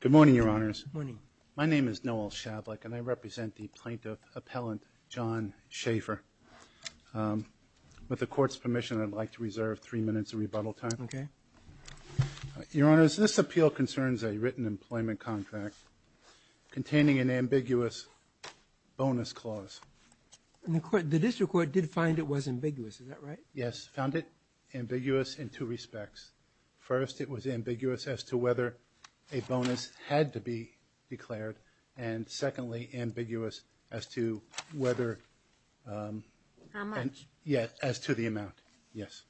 Good morning, Your Honors. My name is Noel Shavlik, and I represent the plaintiff appellant, John Shafer. With the Court's permission, I'd like to reserve three minutes of rebuttal time. Okay. Your Honors, this appeal concerns a written employment contract containing an ambiguous bonus clause. The District Court did find it was ambiguous, is that right? Yes, found it ambiguous in two respects. First, it was ambiguous as to whether a bonus had to be declared, and secondly, ambiguous as to whether... How much? Yes, as to the amount. Yes.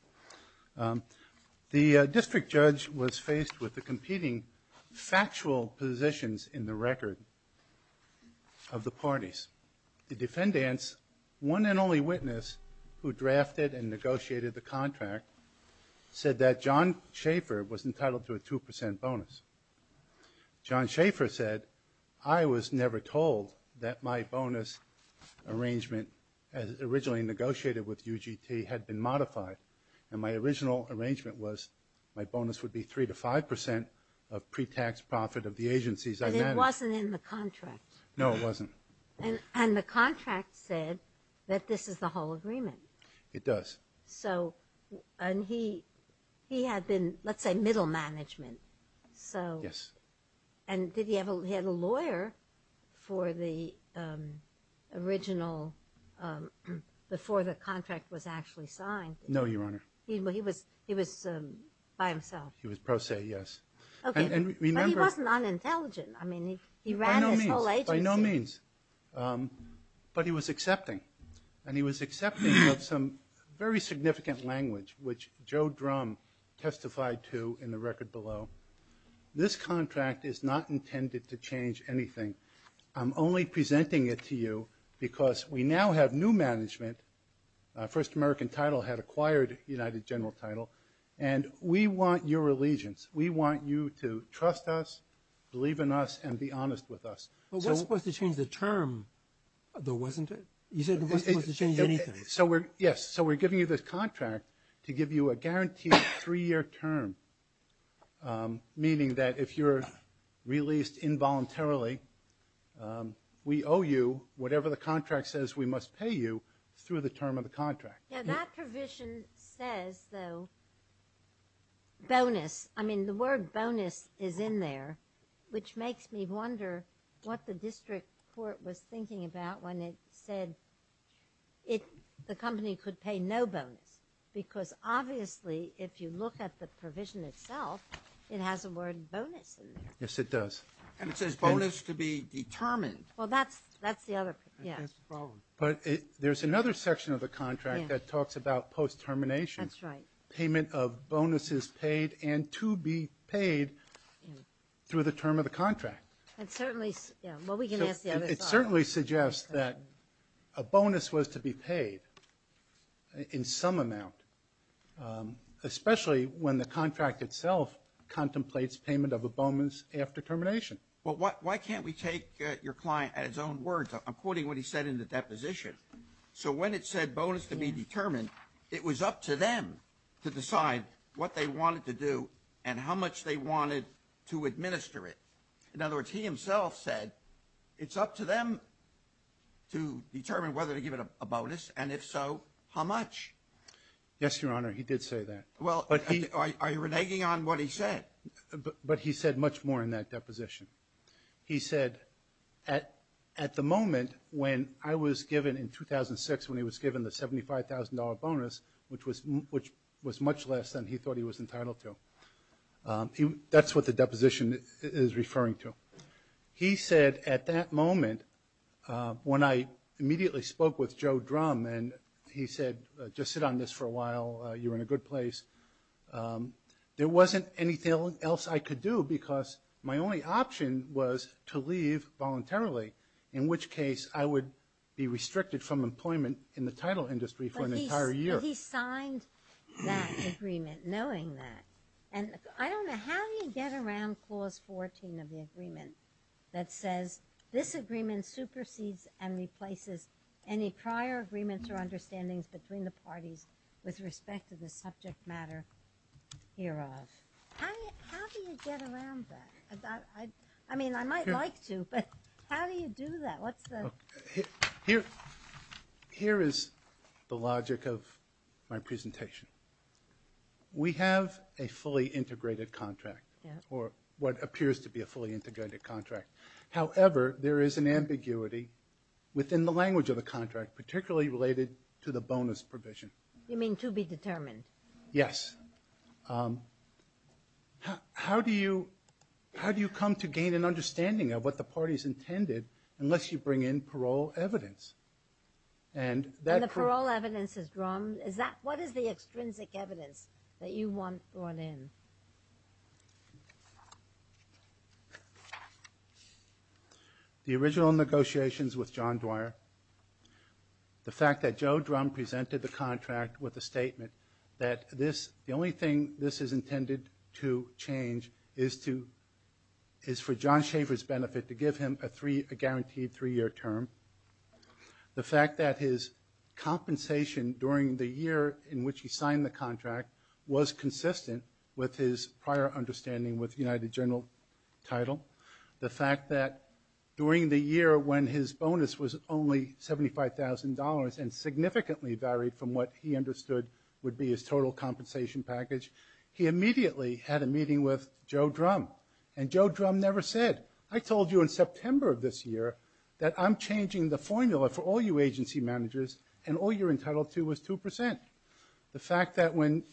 The district judge was faced with the competing factual positions in the record of the parties. The defendants, one and only contract, said that John Shafer was entitled to a two percent bonus. John Shafer said, I was never told that my bonus arrangement, as originally negotiated with UGT, had been modified. And my original arrangement was my bonus would be three to five percent of pre-tax profit of the agencies I managed. And it wasn't in the contract. No, it wasn't. And the contract said that this is the whole agreement. It does. So, and he had been, let's say, middle management. So... Yes. And did he ever had a lawyer for the original, before the contract was actually signed? No, Your Honor. He was by himself? He was pro se, yes. Okay. But he wasn't unintelligent. I mean, he ran his whole agency. By no means. But he was accepting, and he was accepting of some very significant language, which Joe Drum testified to in the record below. This contract is not intended to change anything. I'm only presenting it to you because we now have new management. First American Title had acquired United General Title. And we want your allegiance. We want you to trust us, believe in us, and be honest with us. But what's supposed to change the term, though, isn't it? You said it wasn't supposed to change anything. So we're, yes, so we're giving you this contract to give you a guaranteed three-year term, meaning that if you're released involuntarily, we owe you whatever the contract says we must pay you through the term of the contract. Now that provision says, though, bonus. I mean, the word bonus is in there, which makes me wonder what the district court was thinking about when it said it, the company could pay no bonus. Because obviously, if you look at the provision itself, it has a word bonus. Yes, it does. And it says bonus to be determined. Well, that's, that's the other, yes. But there's another section of the contract that talks about post-termination. That's right. Payment of bonuses paid and to be paid through the term of the contract. It certainly, well, we can ask the other side. It certainly suggests that a bonus was to be paid in some amount, especially when the contract itself contemplates payment of a bonus after termination. Well, why can't we take your client at his own words? I'm quoting what he said in the deposition. So when it said bonus to be determined, it was up to them to decide what they wanted to do and how much they wanted to administer it. In other words, he himself said, it's up to them to determine whether to give it a bonus, and if so, how much? Yes, Your Honor, he did say that. Well, are you reneging on what he said? But he said much more in that deposition. He said, at the moment when I was given in 2006, when he was given the $75,000 bonus, which was much less than he thought he was entitled to, that's what the deposition is referring to. He said, at that moment, when I immediately spoke with Joe Drum and he said, just sit on this for a while, you're in a good place, there wasn't anything else I could do because my only option was to leave voluntarily, in which case I would be restricted from employment in the title industry for an entire year. He signed that agreement knowing that. And I don't know, how do you get around Clause 14 of the agreement that says, this agreement supersedes and replaces any prior agreements or understandings between the parties with respect to the subject matter hereof? How do you get around that? I mean, I might like to, but how do you do that? What's the logic of my presentation? We have a fully integrated contract, or what appears to be a fully integrated contract. However, there is an ambiguity within the language of the contract, particularly related to the bonus provision. You mean to be determined? Yes. How do you come to gain an understanding of what the party's intended unless you bring in parole evidence? And the parole evidence is drawn, is that, what is the extrinsic evidence that you want brought in? The original negotiations with John Dwyer, the fact that Joe Drum presented the contract with a statement that this, the only thing this is intended to change is to, is for John to have a guaranteed three-year term. The fact that his compensation during the year in which he signed the contract was consistent with his prior understanding with the United General title. The fact that during the year when his bonus was only $75,000 and significantly varied from what he understood would be his total compensation package, he immediately had a meeting with Joe Drum. And Joe Drum never said, I told you in September of this year that I'm changing the formula for all you agency managers and all you're entitled to is 2%. The fact that when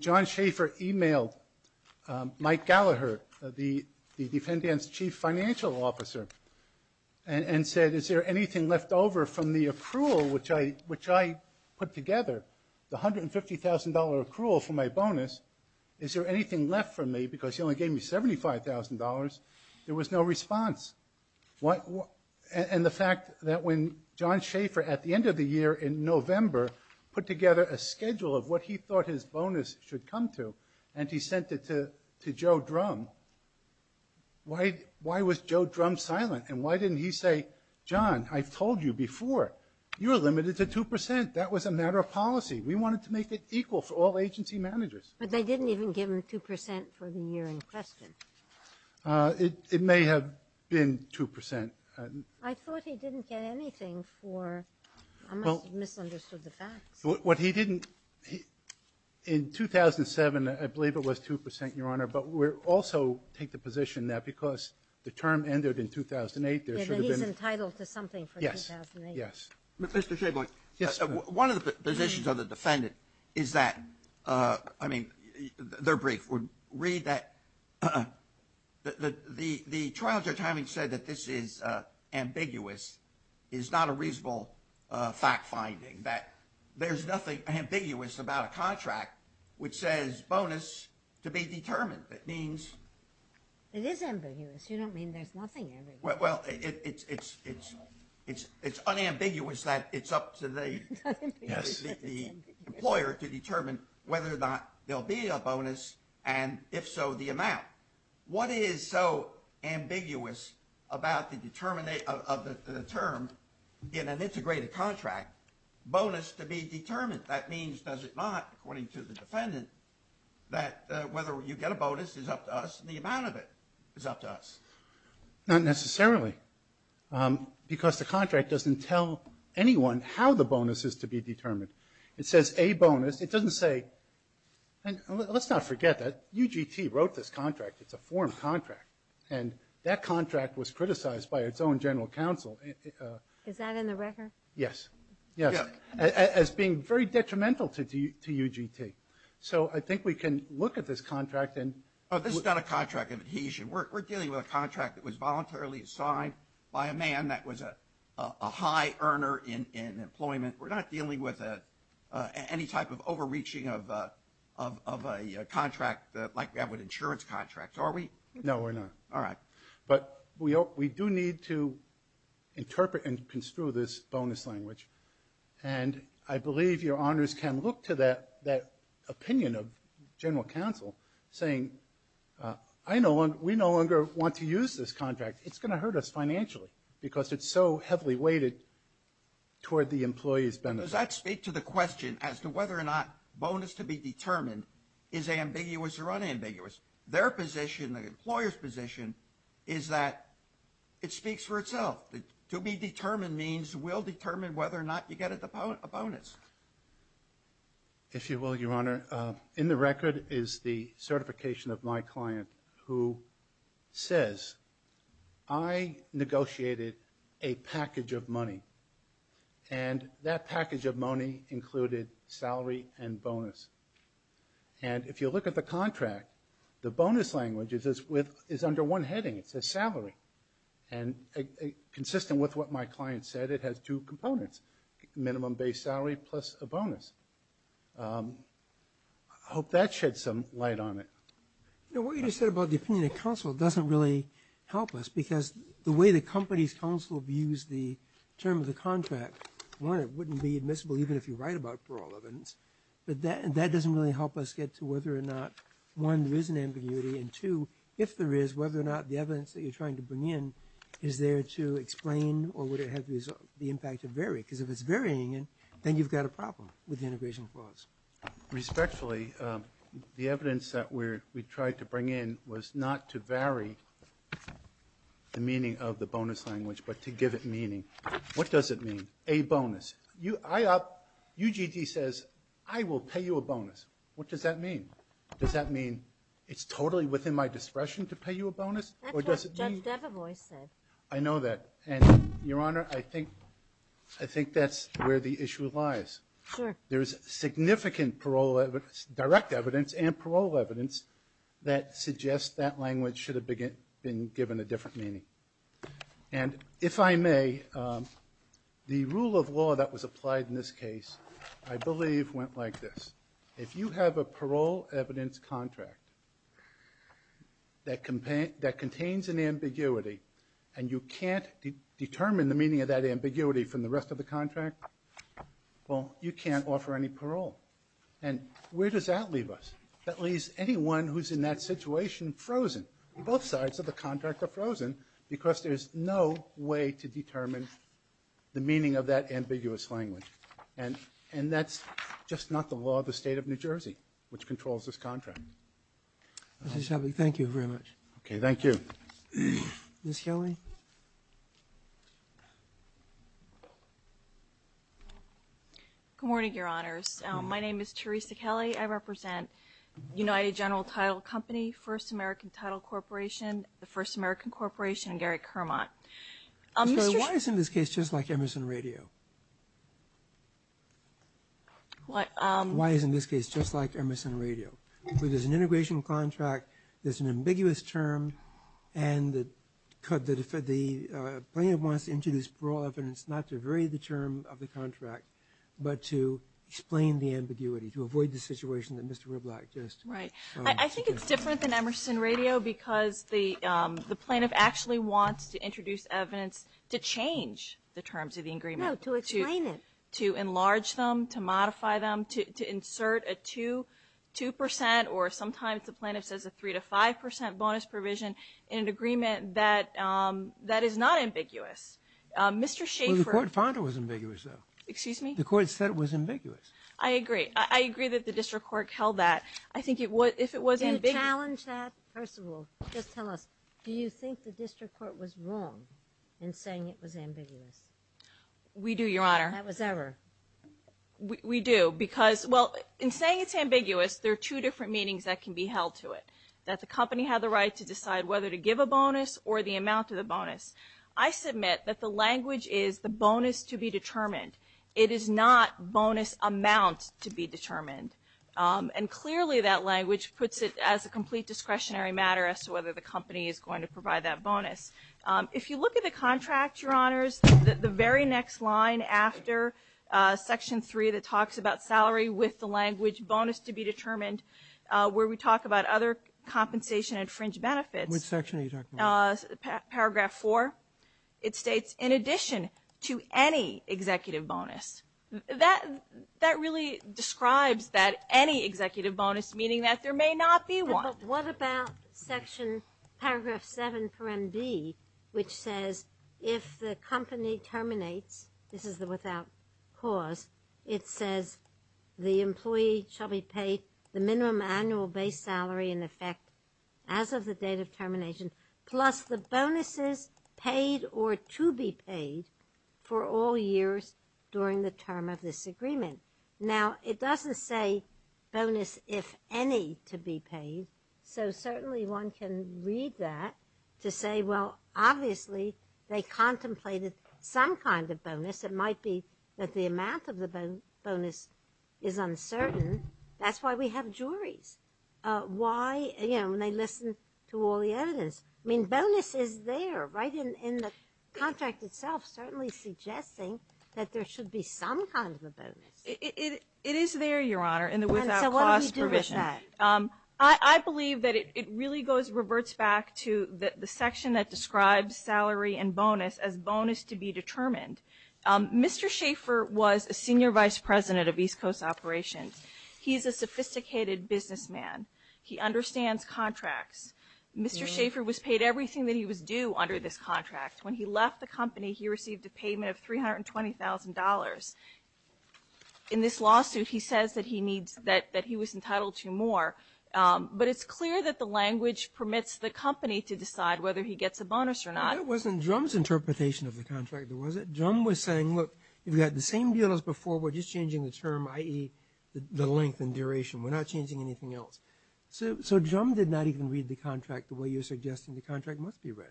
John Schaefer emailed Mike Gallaher, the defendant's chief financial officer, and said, is there anything left over from the accrual which I put together, the $150,000 accrual for my bonus, is there anything left for me because he only gave me $75,000, there was no response. And the fact that when John Schaefer at the end of the year in November put together a schedule of what he thought his bonus should come to and he sent it to Joe Drum, why was Joe Drum silent and why didn't he say, John, I've told you before, you're limited to 2%. That was a matter of policy. We wanted to make it equal for all agency managers. But they didn't even give him 2% for the year in question. It may have been 2%. I thought he didn't get anything for, I must have misunderstood the facts. What he didn't, in 2007, I believe it was 2%, Your Honor, but we're also take the position that because the term ended in 2008, there should have been He was entitled to something for 2008. Yes. Mr. Schaefer, one of the positions of the defendant is that, I mean, their brief would read that the trial judge having said that this is ambiguous is not a reasonable fact finding, that there's nothing ambiguous about a contract which says bonus to be determined. It means It is ambiguous. You don't mean there's nothing ambiguous. Well, it's unambiguous that it's up to the employer to determine whether or not there'll be a bonus, and if so, the amount. What is so ambiguous about the term in an integrated contract, bonus to be determined? That means, does it not, according to the defendant, that whether you get a bonus is up to us and the amount of it is up to us. Not necessarily, because the contract doesn't tell anyone how the bonus is to be determined. It says a bonus. It doesn't say, and let's not forget that UGT wrote this contract, it's a form contract, and that contract was criticized by its own general counsel. Is that in the record? Yes. Yes. As being very detrimental to UGT. So I think we can look at this contract and Oh, this is not a contract of adhesion. We're dealing with a contract that was voluntarily signed by a man that was a high earner in employment. We're not dealing with any type of overreaching of a contract like we have with insurance contracts, are we? No, we're not. All right. But we do need to interpret and construe this bonus language, and I believe your honors can look to that opinion of general counsel saying, I no longer, we no longer want to use this contract. It's going to hurt us financially because it's so heavily weighted toward the employee's benefit. Does that speak to the question as to whether or not bonus to be determined is ambiguous or unambiguous? Their position, the employer's position, is that it speaks for itself. To be determined means we'll determine whether or not you get a bonus. If you will, your honor, in the record is the certification of my client who says, I negotiated a package of money, and that package of money included salary and bonus. And if you look at the contract, the bonus language is under one heading. It says salary. And consistent with what my client said, it has two components, minimum base salary plus a bonus. I hope that sheds some light on it. You know, what you just said about the opinion of counsel doesn't really help us because the way the company's counsel views the term of the contract, one, it wouldn't be admissible even if you write about it for all evidence. But that doesn't really help us get to whether or not, one, there is an ambiguity, and two, if there is, whether or not the evidence that you're trying to bring in is there to explain or would it have the impact to vary? Because if it's varying, then you've got a problem with the integration clause. Respectfully, the evidence that we tried to bring in was not to vary the meaning of the bonus language, but to give it meaning. What does it mean, a bonus? UGG says, I will pay you a bonus. What does that mean? Does that mean it's totally within my discretion to pay you a bonus? That's what Judge Devevois said. I know that. And, Your Honor, I think that's where the issue lies. Sure. There is significant direct evidence and parole evidence that suggests that language should have been given a different meaning. And if I may, the rule of law that was applied in this case, I believe, went like this. If you have a parole evidence contract that contains an ambiguity and you can't determine the meaning of that ambiguity from the rest of the contract, well, you can't offer any parole. And where does that leave us? That leaves anyone who's in that situation frozen. Both sides of the contract are frozen because there's no way to determine the meaning of that ambiguous language. And that's just not the law of the State of New Jersey, which controls this contract. Mr. Shelby, thank you very much. Okay. Thank you. Ms. Kelly? Good morning, Your Honors. My name is Teresa Kelly. I represent United General Title Company, First American Title Corporation, the First American Corporation, and Gary Kermot. Why isn't this case just like Emerson Radio? Why isn't this case just like Emerson Radio? There's an integration contract, there's an ambiguous term, and the plaintiff wants to introduce parole evidence not to vary the term of the contract but to explain the ambiguity, to avoid the situation that Mr. Riblock just described. I think it's different than Emerson Radio because the plaintiff actually wants to introduce evidence to change the terms of the agreement. No, to explain it. To enlarge them, to modify them, to insert a 2 percent or sometimes the plaintiff says a 3 to 5 percent bonus provision in an agreement that is not ambiguous. Mr. Schaffer ---- Well, the court found it was ambiguous, though. Excuse me? The court said it was ambiguous. I agree. I agree that the district court held that. I think if it was ambiguous ---- Can you challenge that? First of all, just tell us, do you think the district court was wrong in saying it was ambiguous? We do, Your Honor. That was error. We do because, well, in saying it's ambiguous, there are two different meanings that can be held to it, that the company had the right to decide whether to give a bonus or the amount of the bonus. I submit that the language is the bonus to be determined. It is not bonus amount to be determined. And clearly that language puts it as a complete discretionary matter as to whether the company is going to provide that bonus. If you look at the contract, Your Honors, the very next line after Section 3 that talks about salary with the language bonus to be determined, where we talk about other compensation and fringe benefits ---- Which section are you talking about? Paragraph 4. It states, in addition to any executive bonus. That really describes that any executive bonus, meaning that there may not be one. But what about Section Paragraph 7, Paragraph B, which says if the company terminates, this is the without cause, it says the employee shall be paid the minimum annual base salary in effect as of the date of termination plus the bonuses paid or to be paid for all years during the term of this agreement. Now, it doesn't say bonus if any to be paid, so certainly one can read that to say, well, obviously they contemplated some kind of bonus. It might be that the amount of the bonus is uncertain. That's why we have juries. Why, you know, when they listen to all the evidence. I mean, bonus is there, right, in the contract itself, certainly suggesting that there should be some kind of a bonus. It is there, Your Honor, in the without cause provision. And so what do we do with that? I believe that it really goes, reverts back to the section that describes salary and bonus as bonus to be determined. Mr. Schaffer was a senior vice president of East Coast Operations. He's a sophisticated businessman. He understands contracts. Mr. Schaffer was paid everything that he was due under this contract. When he left the company, he received a payment of $320,000. In this lawsuit, he says that he was entitled to more, but it's clear that the language permits the company to decide whether he gets a bonus or not. Well, that wasn't Drum's interpretation of the contract, was it? Drum was saying, look, you've got the same deal as before. We're just changing the term, i.e., the length and duration. We're not changing anything else. So Drum did not even read the contract the way you're suggesting the contract must be read.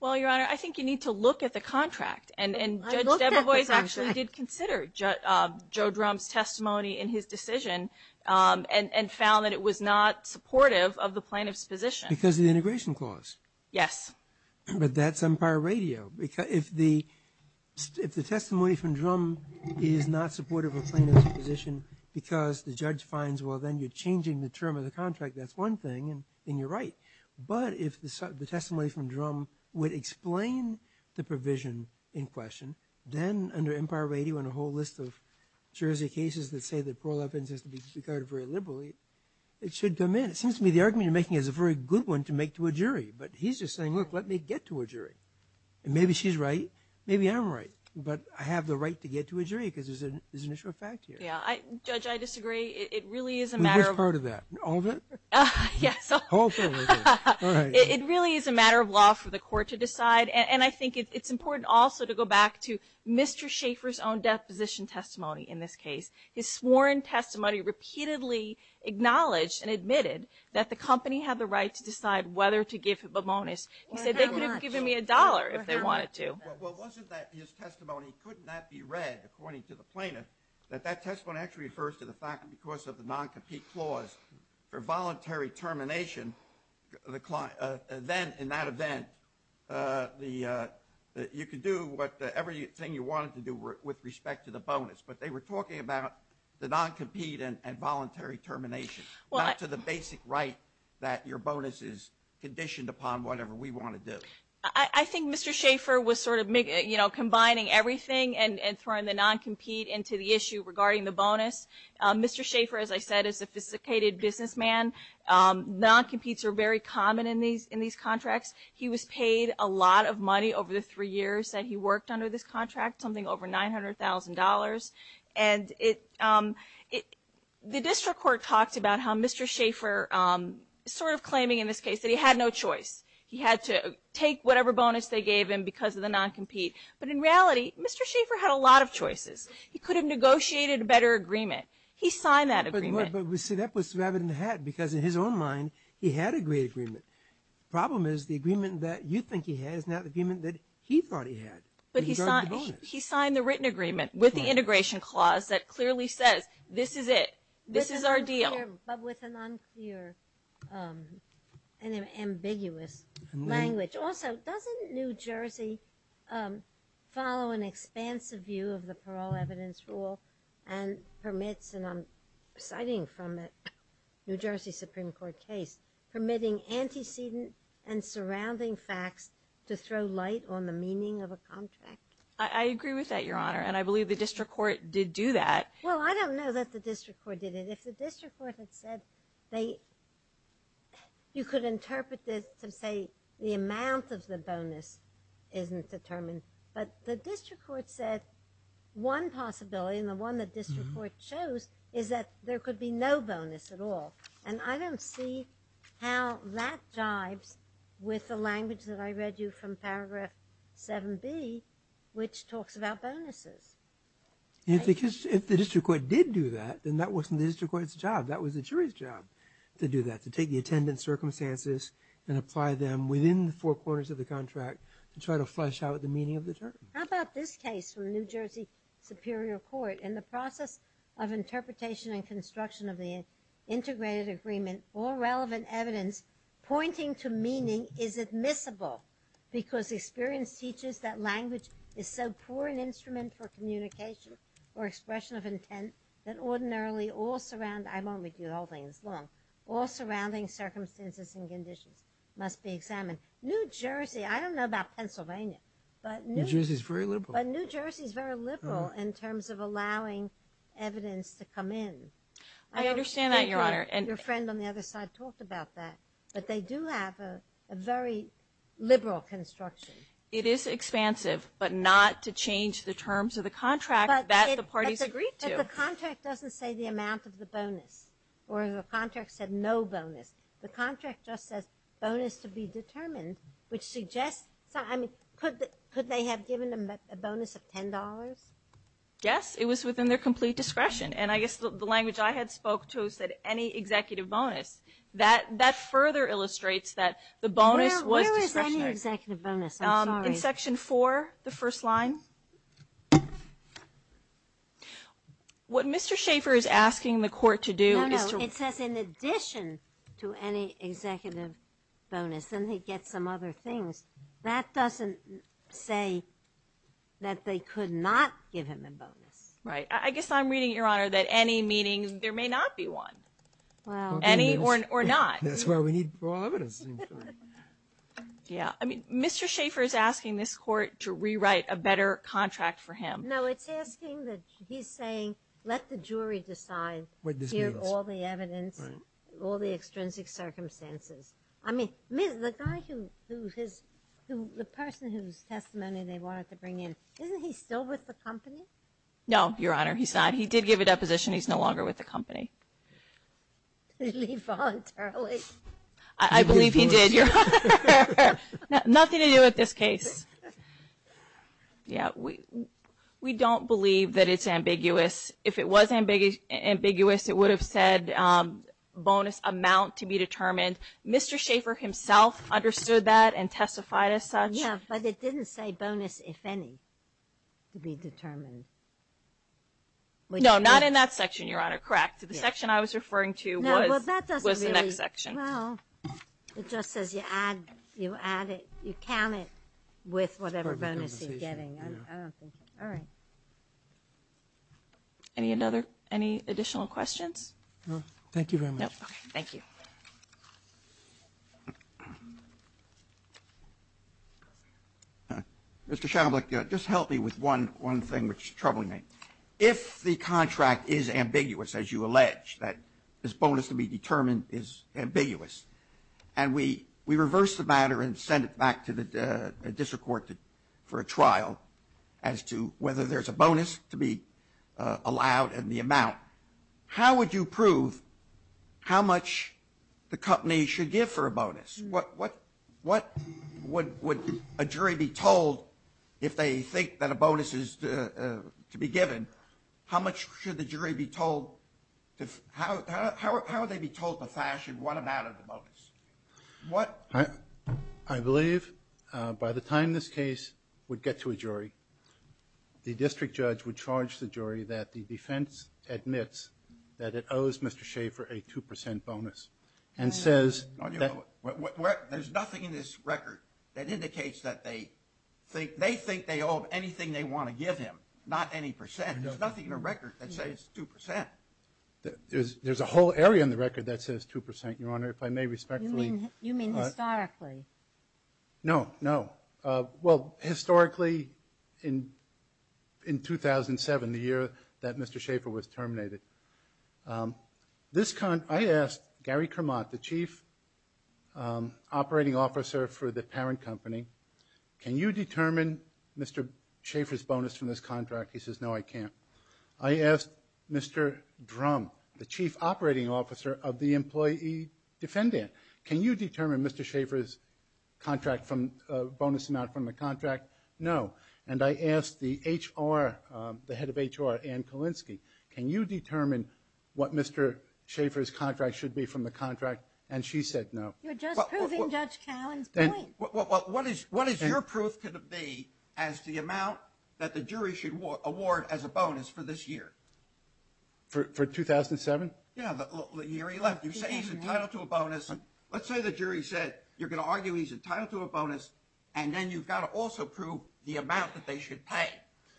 Well, Your Honor, I think you need to look at the contract. And Judge Debevoise actually did consider Joe Drum's testimony in his decision and found that it was not supportive of the plaintiff's position. Because of the integration clause? Yes. But that's Empire Radio. If the testimony from Drum is not supportive of the plaintiff's position because the judge finds, well, then you're changing the term of the contract. That's one thing, and you're right. But if the testimony from Drum would explain the provision in question, then under Empire Radio and a whole list of Jersey cases that say that Pearl Evans has to be regarded very liberally, it should come in. It seems to me the argument you're making is a very good one to make to a jury. But he's just saying, look, let me get to a jury. And maybe she's right, maybe I'm right, but I have the right to get to a jury because there's an issue of fact here. Judge, I disagree. It really is a matter of law for the court to decide. And I think it's important also to go back to Mr. Schaffer's own deposition testimony in this case. His sworn testimony repeatedly acknowledged and admitted that the company had the right to decide whether to give him a bonus. He said they could have given me a dollar if they wanted to. Well, wasn't that his testimony could not be read according to the plaintiff, that that testimony actually refers to the fact that because of the non-compete clause for voluntary termination, then in that event, you could do everything you wanted to do with respect to the bonus. But they were talking about the non-compete and voluntary termination, not to the basic right that your bonus is conditioned upon whatever we want to do. I think Mr. Schaffer was sort of combining everything and throwing the non-compete into the issue regarding the bonus. Mr. Schaffer, as I said, is a sophisticated businessman. Non-competes are very common in these contracts. He was paid a lot of money over the three years that he worked under this contract, something over $900,000. And the district court talked about how Mr. Schaffer sort of claiming in this case that he had no choice. He had to take whatever bonus they gave him because of the non-compete. But in reality, Mr. Schaffer had a lot of choices. He could have negotiated a better agreement. He signed that agreement. But we see that was the rabbit in the hat because in his own mind, he had a great agreement. The problem is the agreement that you think he had is not the agreement that he thought he had. But he signed the written agreement with the integration clause that clearly says this is it. This is our deal. But with an unclear and ambiguous language. Also, doesn't New Jersey follow an expansive view of the parole evidence rule and permits, and I'm citing from a New Jersey Supreme Court case, permitting antecedent and surrounding facts to throw light on the meaning of a contract? I agree with that, Your Honor. And I believe the district court did do that. Well, I don't know that the district court did it. If the district court had said they, you could interpret this to say the amount of the bonus isn't determined. But the district court said one possibility, and the one that district court chose, is that there could be no bonus at all. And I don't see how that jives with the language that I read you from Paragraph 7B, which talks about bonuses. If the district court did do that, then that wasn't the district court's job. That was the jury's job to do that, to take the attendance circumstances and apply them within the four corners of the contract to try to flesh out the meaning of the term. How about this case from New Jersey Superior Court? In the process of interpretation and construction of the integrated agreement, all relevant evidence pointing to meaning is admissible because experience teaches that language is so poor an instrument for communication or expression of intent that ordinarily all surrounding, I won't read you the whole thing, it's long, all surrounding circumstances and conditions must be examined. New Jersey, I don't know about Pennsylvania, but New Jersey. New Jersey's very liberal. But New Jersey's very liberal in terms of allowing evidence to come in. I understand that, Your Honor. Your friend on the other side talked about that. But they do have a very liberal construction. It is expansive, but not to change the terms of the contract that the parties agreed to. But the contract doesn't say the amount of the bonus, or the contract said no bonus. The contract just says bonus to be determined, which suggests, I mean, could they have given them a bonus of $10? Yes, it was within their complete discretion. And I guess the language I had spoke to is that any executive bonus, that further illustrates that the bonus was discretionary. Where is any executive bonus? I'm sorry. In Section 4, the first line. What Mr. Schaffer is asking the court to do is to ---- No, no, it says in addition to any executive bonus. Then he gets some other things. That doesn't say that they could not give him a bonus. Right. I guess I'm reading, Your Honor, that any meeting, there may not be one. Wow. Any or not. That's why we need raw evidence. Yeah. I mean, Mr. Schaffer is asking this court to rewrite a better contract for him. No, it's asking that he's saying let the jury decide here all the evidence, all the extrinsic circumstances. I mean, the guy who his ---- the person whose testimony they wanted to bring in, isn't he still with the company? No, Your Honor, he's not. He did give a deposition. He's no longer with the company. Did he leave voluntarily? I believe he did, Your Honor. Nothing to do with this case. Yeah, we don't believe that it's ambiguous. If it was ambiguous, it would have said bonus amount to be determined. Mr. Schaffer himself understood that and testified as such. No, not in that section, Your Honor. Correct. The section I was referring to was the next section. Well, it just says you add it, you count it with whatever bonus you're getting. I don't think so. All right. Any additional questions? No. Thank you very much. Thank you. Mr. Schablich, just help me with one thing which is troubling me. If the contract is ambiguous, as you allege, that this bonus to be determined is ambiguous, and we reverse the matter and send it back to the district court for a trial as to whether there's a bonus to be allowed and the amount, how would you prove how much the company should give for a bonus? What would a jury be told if they think that a bonus is to be given? How much should the jury be told? How would they be told to fashion what amount of the bonus? I believe by the time this case would get to a jury, the district judge would charge the jury that the defense admits that it owes Mr. Schaefer a 2% bonus. There's nothing in this record that indicates that they think they owe anything they want to give him, not any percent. There's nothing in the record that says 2%. There's a whole area in the record that says 2%, Your Honor, if I may respectfully. You mean historically? No, no. Historically, in 2007, the year that Mr. Schaefer was terminated, I asked Gary Kermot, the chief operating officer for the parent company, can you determine Mr. Schaefer's bonus from this contract? He says, no, I can't. I asked Mr. Drum, the chief operating officer of the employee defendant, can you determine Mr. Schaefer's bonus amount from the contract? No. And I asked the head of HR, Ann Kalinsky, can you determine what Mr. Schaefer's contract should be from the contract? And she said no. You're just proving Judge Callen's point. What is your proof going to be as to the amount that the jury should award as a bonus for this year? For 2007? Yeah, the year he left. You say he's entitled to a bonus. Let's say the jury said you're going to argue he's entitled to a bonus, and then you've got to also prove the amount that they should pay.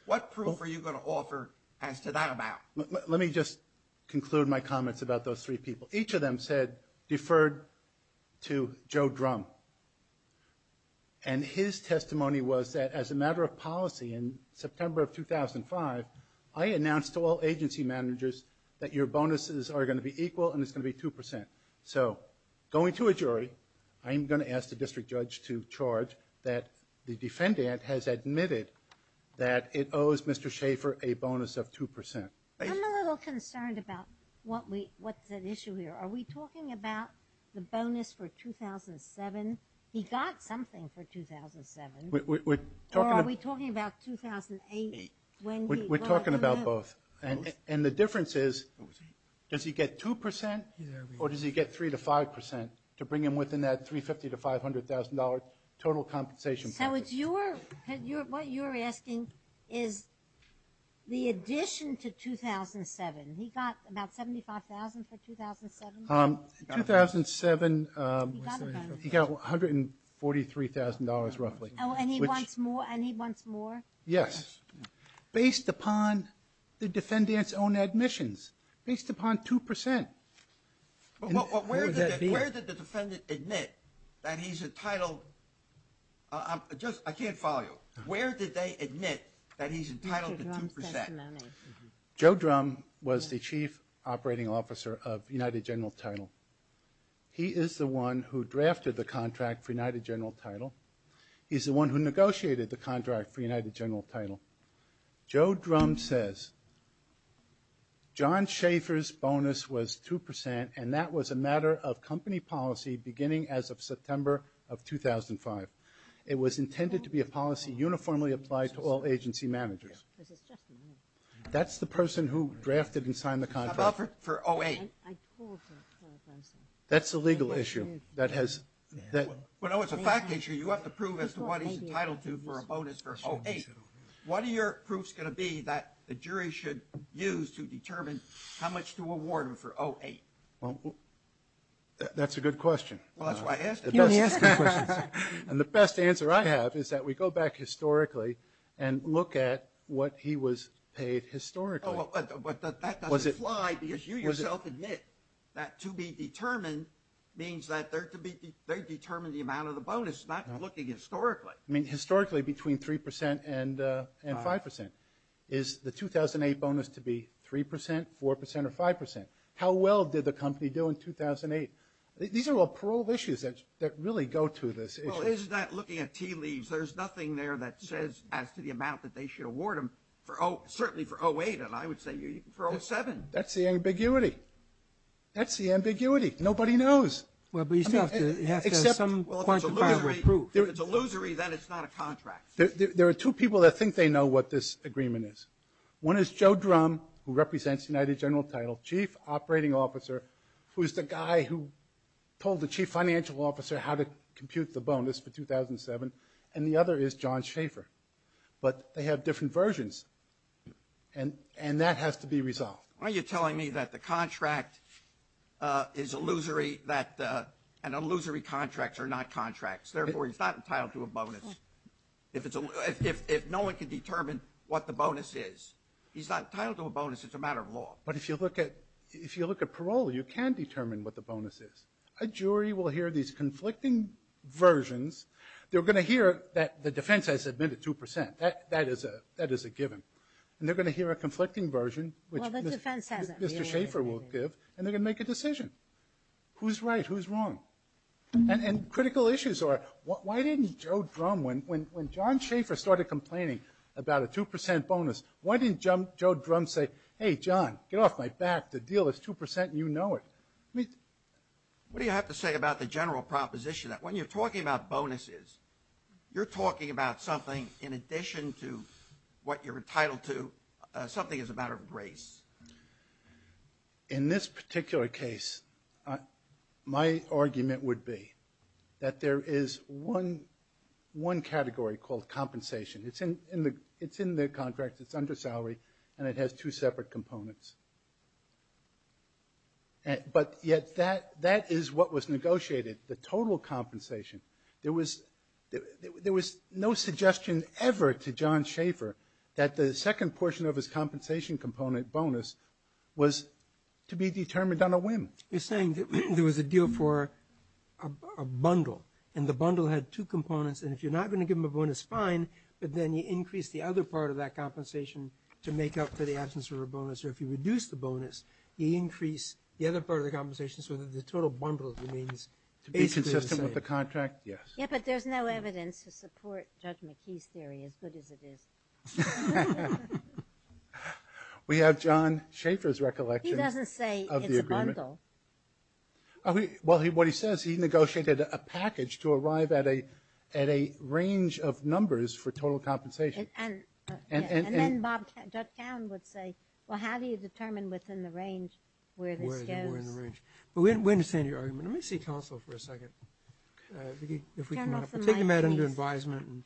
What proof are you going to offer as to that amount? Let me just conclude my comments about those three people. Each of them said deferred to Joe Drum, and his testimony was that as a matter of policy in September of 2005, I announced to all agency managers that your bonuses are going to be equal and it's going to be 2%. So going to a jury, I am going to ask the district judge to charge that the defendant has admitted that it owes Mr. Schaefer a bonus of 2%. I'm a little concerned about what's at issue here. Are we talking about the bonus for 2007? He got something for 2007. Or are we talking about 2008? We're talking about both. And the difference is, does he get 2% or does he get 3% to 5% to bring him within that $350,000 to $500,000 total compensation? So what you're asking is the addition to 2007. He got about $75,000 for 2007? In 2007, he got $143,000 roughly. And he wants more? Yes. Based upon the defendant's own admissions, based upon 2%. Where did the defendant admit that he's entitled? I can't follow you. Where did they admit that he's entitled to 2%? Joe Drum was the chief operating officer of United General Title. He is the one who drafted the contract for United General Title. He's the one who negotiated the contract for United General Title. Joe Drum says, John Schaefer's bonus was 2%, and that was a matter of company policy beginning as of September of 2005. It was intended to be a policy uniformly applied to all agency managers. That's the person who drafted and signed the contract. How about for 2008? That's a legal issue. Well, no, it's a fact issue. You have to prove as to what he's entitled to for a bonus for 2008. What are your proofs going to be that the jury should use to determine how much to award him for 2008? That's a good question. Well, that's why I asked it. And the best answer I have is that we go back historically and look at what he was paid historically. That doesn't apply because you yourself admit that to be determined means that they're determined the amount of the bonus, not looking historically. Historically, between 3% and 5%. Is the 2008 bonus to be 3%, 4%, or 5%? How well did the company do in 2008? These are all parole issues that really go to this issue. Well, it's not looking at tea leaves. There's nothing there that says as to the amount that they should award him, certainly for 2008. And I would say for 2007. That's the ambiguity. That's the ambiguity. Nobody knows. Well, but you still have to have some quantifiable proof. If it's illusory, then it's not a contract. There are two people that think they know what this agreement is. One is Joe Drum, who represents the United General Title, chief operating officer, who's the guy who told the chief financial officer how to compute the bonus for 2007. And the other is John Schaefer. But they have different versions. And that has to be resolved. Why are you telling me that the contract is illusory, that an illusory contract are not contracts? Therefore, he's not entitled to a bonus. If no one can determine what the bonus is, he's not entitled to a bonus. It's a matter of law. But if you look at parole, you can determine what the bonus is. A jury will hear these conflicting versions. They're going to hear that the defense has admitted 2%. That is a given. And they're going to hear a conflicting version, which Mr. Schaefer will give, and they're going to make a decision. Who's right? Who's wrong? And critical issues are, why didn't Joe Drum, when John Schaefer started complaining about a 2% bonus, why didn't Joe Drum say, hey, John, get off my back, the deal is 2% and you know it? What do you have to say about the general proposition that when you're talking about bonuses, you're talking about something in addition to what you're entitled to, something as a matter of grace? In this particular case, my argument would be that there is one category called compensation. It's in the contract, it's under salary, and it has two separate components. But yet that is what was negotiated, the total compensation. There was no suggestion ever to John Schaefer that the second portion of his compensation component bonus was to be determined on a whim. You're saying there was a deal for a bundle, and the bundle had two components, and if you're not going to give him a bonus, fine, but then you increase the other part of that compensation to make up for the absence of a bonus, or if you reduce the bonus, you increase the other part of the compensation so that the total bundle remains basically the same. To be consistent with the contract, yes. Yeah, but there's no evidence to support Judge McKee's theory, as good as it is. We have John Schaefer's recollection of the agreement. He doesn't say it's a bundle. Well, what he says, he negotiated a package to arrive at a range of numbers for total compensation. And then Judge Towne would say, well, how do you determine within the range where this goes? But we understand your argument. Let me see counsel for a second. If we can take him out under advisement.